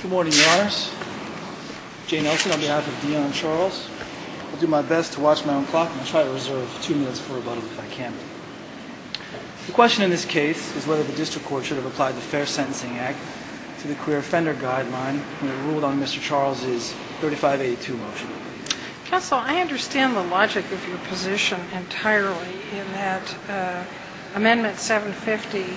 Good morning, your honors. Jane Nelson on behalf of Deon Charles. I'll do my best to watch my own clock, and I'll try to reserve two minutes for rebuttal if I can. The question in this case is whether the district court should have applied the Fair Sentencing Act to the career offender guideline when it ruled on Mr. Charles' 3582 motion. Counsel, I understand the logic of your position entirely in that Amendment 750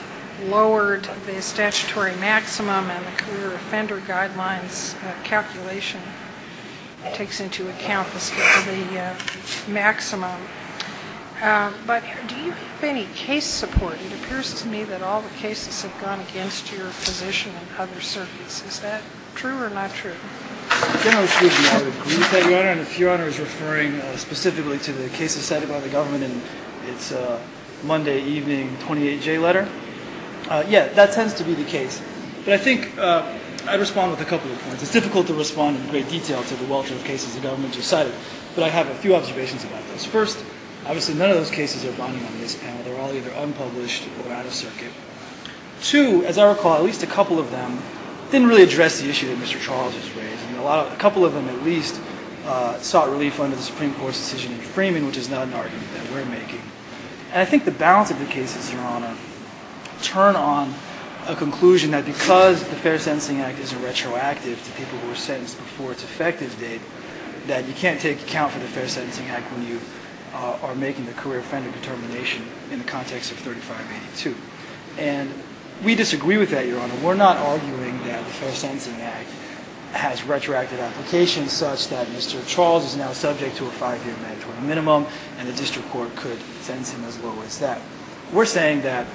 lowered the statutory maximum and the career offender guideline's calculation takes into account the maximum. But do you have any case support? It appears to me that all the cases have gone against your position in other circuits. Is that true or not true? Generally speaking, I would agree with that, your honor. And if your honor is referring specifically to the case decided by the government in its Monday evening 28J letter, yeah, that tends to be the case. But I think I'd respond with a couple of points. It's difficult to respond in great detail to the wealth of cases the government has decided. But I have a few observations about this. First, obviously none of those cases are binding on this panel. They're all either unpublished or out of circuit. Two, as I recall, at least a couple of them didn't really address the issue that Mr. Charles has raised. A couple of them at least sought relief under the Supreme Court's decision in Freeman, which is not an argument that we're making. And I think the balance of the cases, your honor, turn on a conclusion that because the Fair Sentencing Act isn't retroactive to people who were sentenced before its effective date, that you can't take account for the Fair Sentencing Act when you are making the career-friendly determination in the context of 3582. And we disagree with that, your honor. We're not arguing that the Fair Sentencing Act has retroactive applications such that Mr. Charles is now subject to a five-year mandatory minimum and the district court could sentence him as low as that. We're saying that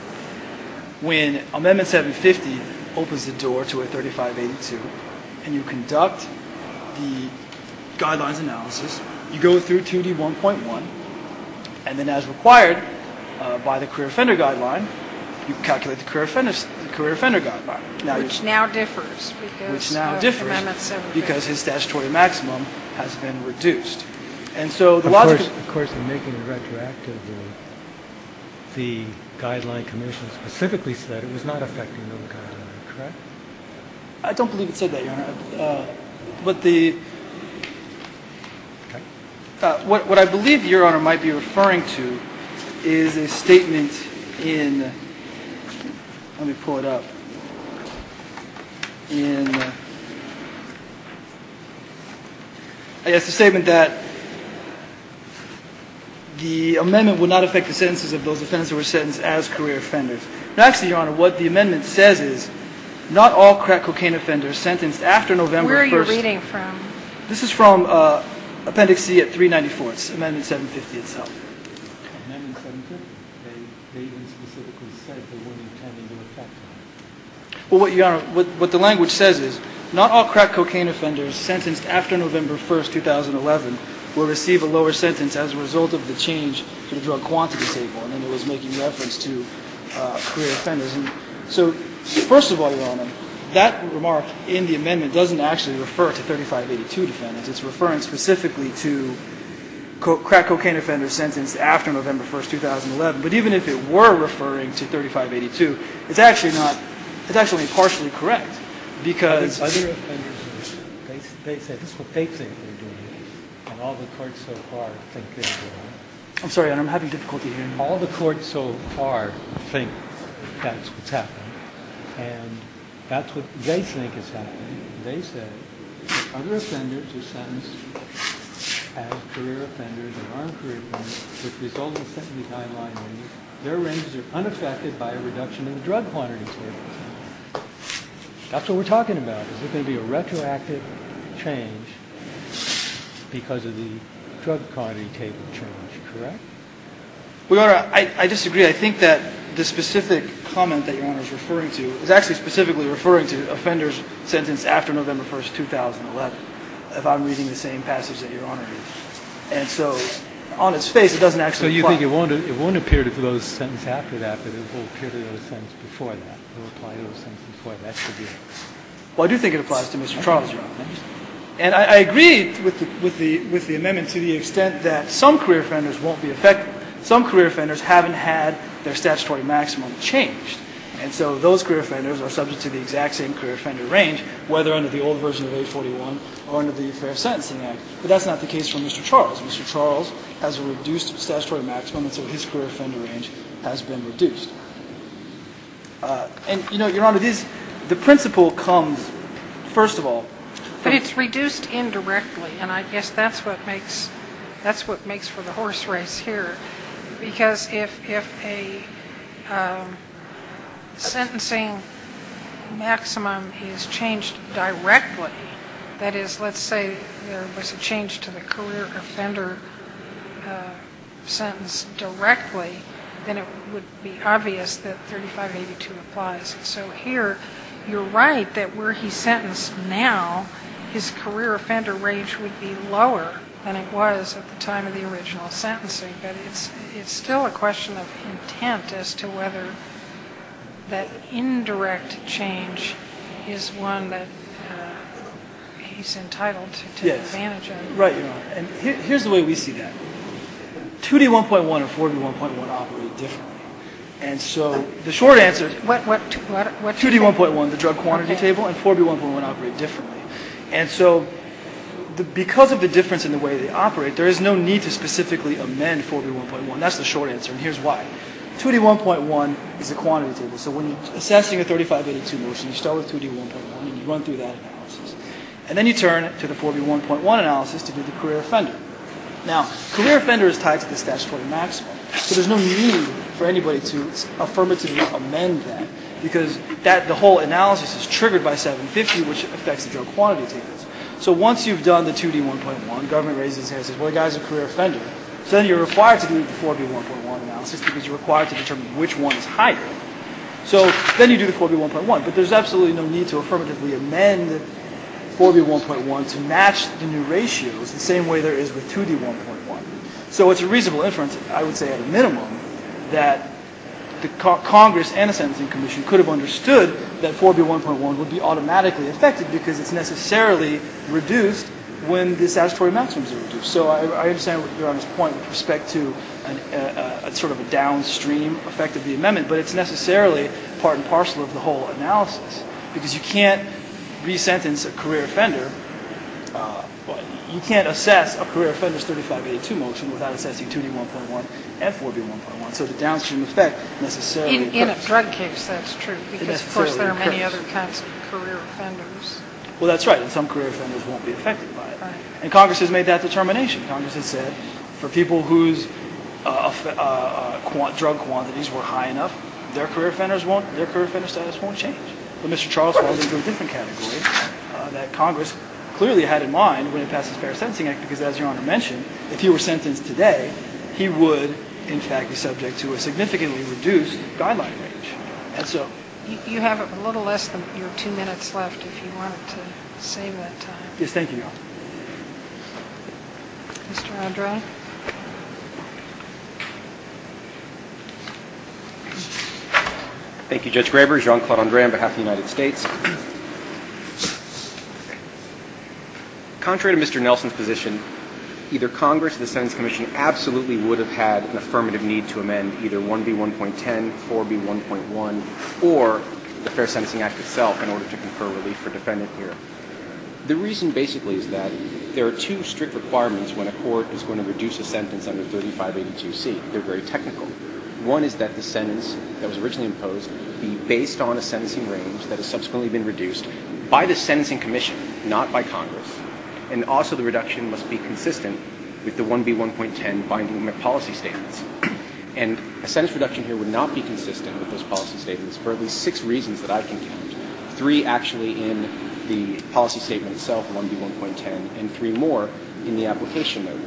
when Amendment 750 opens the door to a 3582 and you conduct the guidelines analysis, you go through 2D1.1, and then as required by the career offender guideline, you calculate the career offender guideline. Which now differs. Which now differs because his statutory maximum has been reduced. Of course, in making it retroactive, the guideline commission specifically said it was not affecting no guideline, correct? I don't believe it said that, your honor. But the – what I believe your honor might be referring to is a statement in – let me pull it up. In – it's a statement that the amendment would not affect the sentences of those offenders who were sentenced as career offenders. Actually, your honor, what the amendment says is not all crack cocaine offenders sentenced after November 1st – Where are you reading from? This is from Appendix C at 394. It's Amendment 750 itself. Amendment 750? They even specifically said they weren't intending to affect them. Well, your honor, what the language says is not all crack cocaine offenders sentenced after November 1st, 2011 will receive a lower sentence as a result of the change to the drug quantity table. And it was making reference to career offenders. So, first of all, your honor, that remark in the amendment doesn't actually refer to 3582 defendants. It's referring specifically to crack cocaine offenders sentenced after November 1st, 2011. But even if it were referring to 3582, it's actually not – it's actually partially correct. Because other offenders – they say this is what they think they're doing. And all the courts so far think they're doing it. I'm sorry, your honor, I'm having difficulty hearing you. All the courts so far think that's what's happening. And that's what they think is happening. They said if other offenders are sentenced as career offenders and aren't career offenders as a result of the sentencing timeline changes, their ranges are unaffected by a reduction in the drug quantity table. That's what we're talking about. There's going to be a retroactive change because of the drug quantity table change, correct? Well, your honor, I disagree. I think that the specific comment that your honor is referring to is actually specifically referring to offenders sentenced after November 1st, 2011, if I'm reading the same passage that your honor is. And so on its face, it doesn't actually apply. So you think it won't appear to those sentenced after that, but it will appear to those sentenced before that? It will apply to those sentenced before that? Well, I do think it applies to Mr. Charles, your honor. And I agree with the amendment to the extent that some career offenders won't be affected. Some career offenders haven't had their statutory maximum changed. And so those career offenders are subject to the exact same career offender range, whether under the old version of 841 or under the Fair Sentencing Act. But that's not the case for Mr. Charles. Mr. Charles has a reduced statutory maximum, and so his career offender range has been reduced. And, you know, your honor, the principle comes, first of all. But it's reduced indirectly, and I guess that's what makes for the horse race here. Because if a sentencing maximum is changed directly, that is, let's say there was a change to the career offender sentence directly, then it would be obvious that 3582 applies. So here you're right that were he sentenced now, his career offender range would be lower than it was at the time of the original sentencing. But it's still a question of intent as to whether that indirect change is one that he's entitled to take advantage of. Right, your honor. And here's the way we see that. 2D1.1 and 4B1.1 operate differently. And so the short answer is 2D1.1, the drug quantity table, and 4B1.1 operate differently. And so because of the difference in the way they operate, there is no need to specifically amend 4B1.1. That's the short answer, and here's why. 2D1.1 is the quantity table. So when you're assessing a 3582 motion, you start with 2D1.1 and you run through that analysis. And then you turn to the 4B1.1 analysis to do the career offender. Now, career offender is tied to the statutory maximum, so there's no need for anybody to affirmatively amend that, because the whole analysis is triggered by 750, which affects the drug quantity tables. So once you've done the 2D1.1, government raises its hand and says, well, the guy's a career offender. So then you're required to do the 4B1.1 analysis because you're required to determine which one is higher. So then you do the 4B1.1, but there's absolutely no need to affirmatively amend 4B1.1 to match the new ratios the same way there is with 2D1.1. So it's a reasonable inference, I would say at a minimum, that Congress and the Sentencing Commission could have understood that 4B1.1 would be automatically affected because it's necessarily reduced when the statutory maximums are reduced. So I understand Your Honor's point with respect to sort of a downstream effect of the amendment, but it's necessarily part and parcel of the whole analysis because you can't resentence a career offender. You can't assess a career offender's 3582 motion without assessing 2D1.1 and 4B1.1. So the downstream effect necessarily occurs. In a drug case, that's true, because of course there are many other kinds of career offenders. Well, that's right, and some career offenders won't be affected by it. Right. And Congress has made that determination. Congress has said for people whose drug quantities were high enough, their career offender status won't change. But Mr. Charles has a different category that Congress clearly had in mind when it passed the Fair Sentencing Act because, as Your Honor mentioned, if he were sentenced today, he would in fact be subject to a significantly reduced guideline range. And so... You have a little less than your two minutes left if you wanted to save that time. Yes, thank you, Your Honor. Mr. Andre? Thank you, Judge Graber. Jean-Claude Andre on behalf of the United States. Contrary to Mr. Nelson's position, either Congress or the Sentence Commission absolutely would have had an affirmative need to amend either 1B1.10, 4B1.1, or the Fair Sentencing Act itself in order to confer relief for a defendant here. The reason basically is that there are two strict requirements when a court is going to make a decision on how to reduce a sentence under 3582C. They're very technical. One is that the sentence that was originally imposed be based on a sentencing range that has subsequently been reduced by the Sentencing Commission, not by Congress, and also the reduction must be consistent with the 1B1.10 binding policy statements. And a sentence reduction here would not be consistent with those policy statements for at least six reasons that I've contained, three actually in the policy statement itself, 1B1.10, and three more in the application note.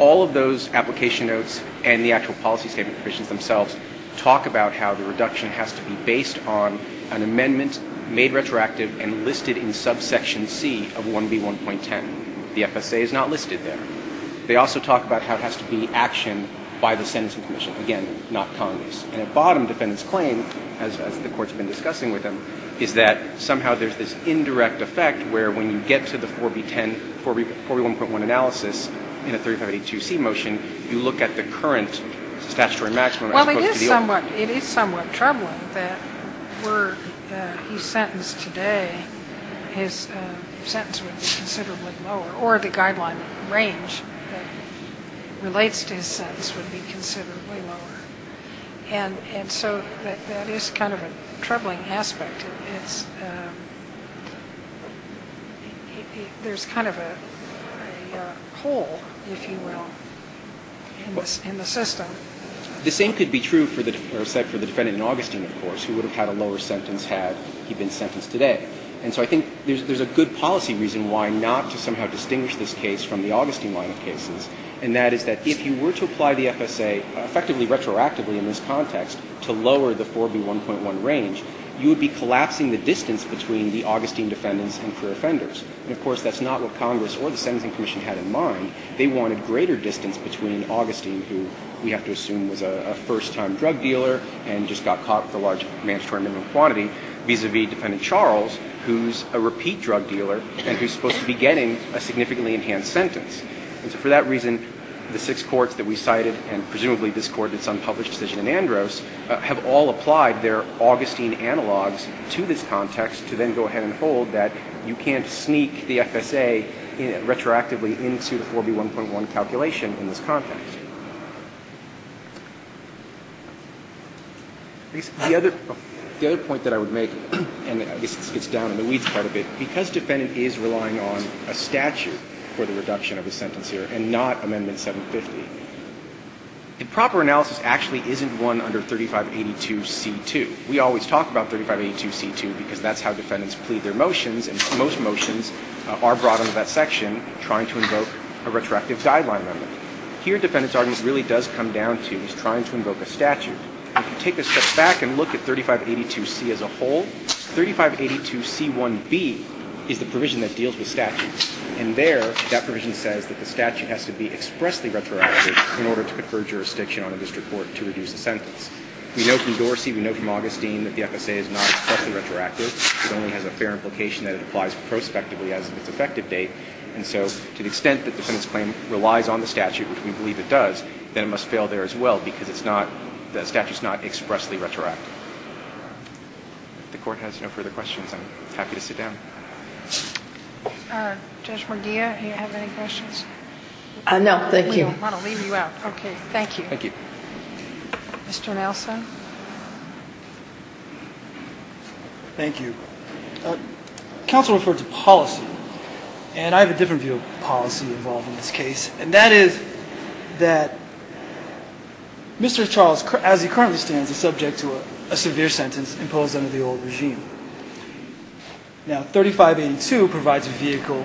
All of those application notes and the actual policy statement provisions themselves talk about how the reduction has to be based on an amendment made retroactive and listed in subsection C of 1B1.10. The FSA is not listed there. They also talk about how it has to be action by the Sentencing Commission, again, not Congress. And a bottom defendant's claim, as the Court's been discussing with him, is that somehow there's this indirect effect where when you get to the 4B1.1 analysis in a 3582C motion, you look at the current statutory maximum as opposed to the old. Well, it is somewhat troubling that were he sentenced today, his sentence would be considerably lower or the guideline range that relates to his sentence would be considerably lower. And so that is kind of a troubling aspect. There's kind of a hole, if you will, in the system. The same could be true for the defendant in Augustine, of course, who would have had a lower sentence had he been sentenced today. And so I think there's a good policy reason why not to somehow distinguish this case from the Augustine line of cases, and that is that if you were to apply the FSA effectively retroactively in this context to lower the 4B1.1 range, you would be collapsing the distance between the Augustine defendants and career offenders. And, of course, that's not what Congress or the Sentencing Commission had in mind. They wanted greater distance between Augustine, who we have to assume was a first-time drug dealer and just got caught with a large mandatory minimum quantity, vis-à-vis defendant Charles, who's a repeat drug dealer and who's supposed to be getting a significantly enhanced sentence. And so for that reason, the six courts that we cited, and presumably this Court that's unpublished decision in Andros, have all applied their Augustine analogs to this context to then go ahead and hold that you can't sneak the FSA retroactively into the 4B1.1 calculation in this context. The other point that I would make, and I guess this gets down in the weeds quite a bit, because defendant is relying on a statute for the reduction of his sentence here and not Amendment 750, the proper analysis actually isn't one under 3582C2. We always talk about 3582C2 because that's how defendants plead their motions, and most motions are brought under that section trying to invoke a retroactive guideline amendment. Here, defendant's argument really does come down to trying to invoke a statute. If you take a step back and look at 3582C as a whole, 3582C1B is the provision that deals with statutes. And there, that provision says that the statute has to be expressly retroactive in order to confer jurisdiction on a district court to reduce a sentence. We know from Dorsey, we know from Augustine, that the FSA is not expressly retroactive. It only has a fair implication that it applies prospectively as of its effective date. And so to the extent that defendant's claim relies on the statute, which we believe it does, then it must fail there as well because it's not, the statute's not expressly retroactive. If the Court has no further questions, I'm happy to sit down. Judge Morgia, do you have any questions? No, thank you. We don't want to leave you out. Okay, thank you. Thank you. Mr. Nelson. Thank you. Counsel referred to policy, and I have a different view of policy involved in this case, and that is that Mr. Charles, as he currently stands, is subject to a severe sentence imposed under the old regime. Now, 3582 provides a vehicle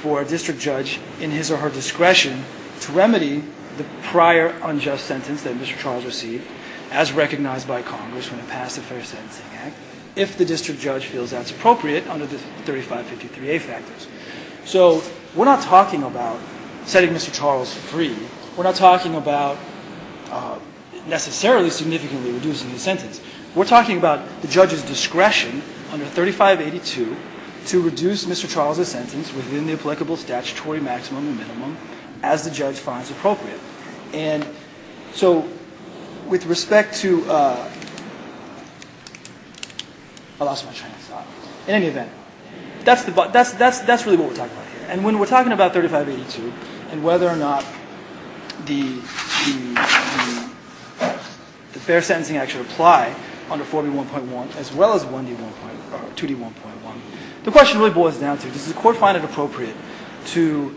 for a district judge in his or her discretion to remedy the prior unjust sentence that Mr. Charles received, as recognized by Congress when it passed the Fair Sentencing Act, if the district judge feels that's appropriate under the 3553A factors. So we're not talking about setting Mr. Charles free. We're not talking about necessarily significantly reducing the sentence. We're talking about the judge's discretion under 3582 to reduce Mr. Charles' sentence within the applicable statutory maximum and minimum as the judge finds appropriate. And so with respect to – I lost my train of thought. In any event, that's really what we're talking about here. And when we're talking about 3582 and whether or not the Fair Sentencing Act should apply under 4B1.1 as well as 2D1.1, the question really boils down to, does the court find it appropriate to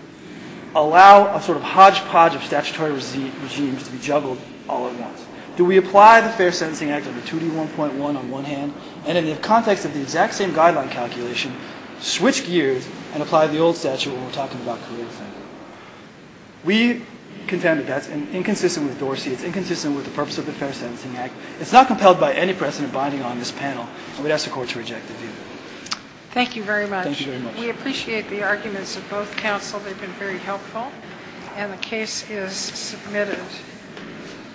allow a sort of hodgepodge of statutory regimes to be juggled all at once? Do we apply the Fair Sentencing Act under 2D1.1 on one hand, and in the context of the exact same guideline calculation, switch gears and apply the old statute when we're talking about career defendant? We contend that that's inconsistent with Dorsey. It's inconsistent with the purpose of the Fair Sentencing Act. It's not compelled by any precedent binding on this panel, and we'd ask the court to reject the view. Thank you very much. We appreciate the arguments of both counsel. They've been very helpful. And the case is submitted.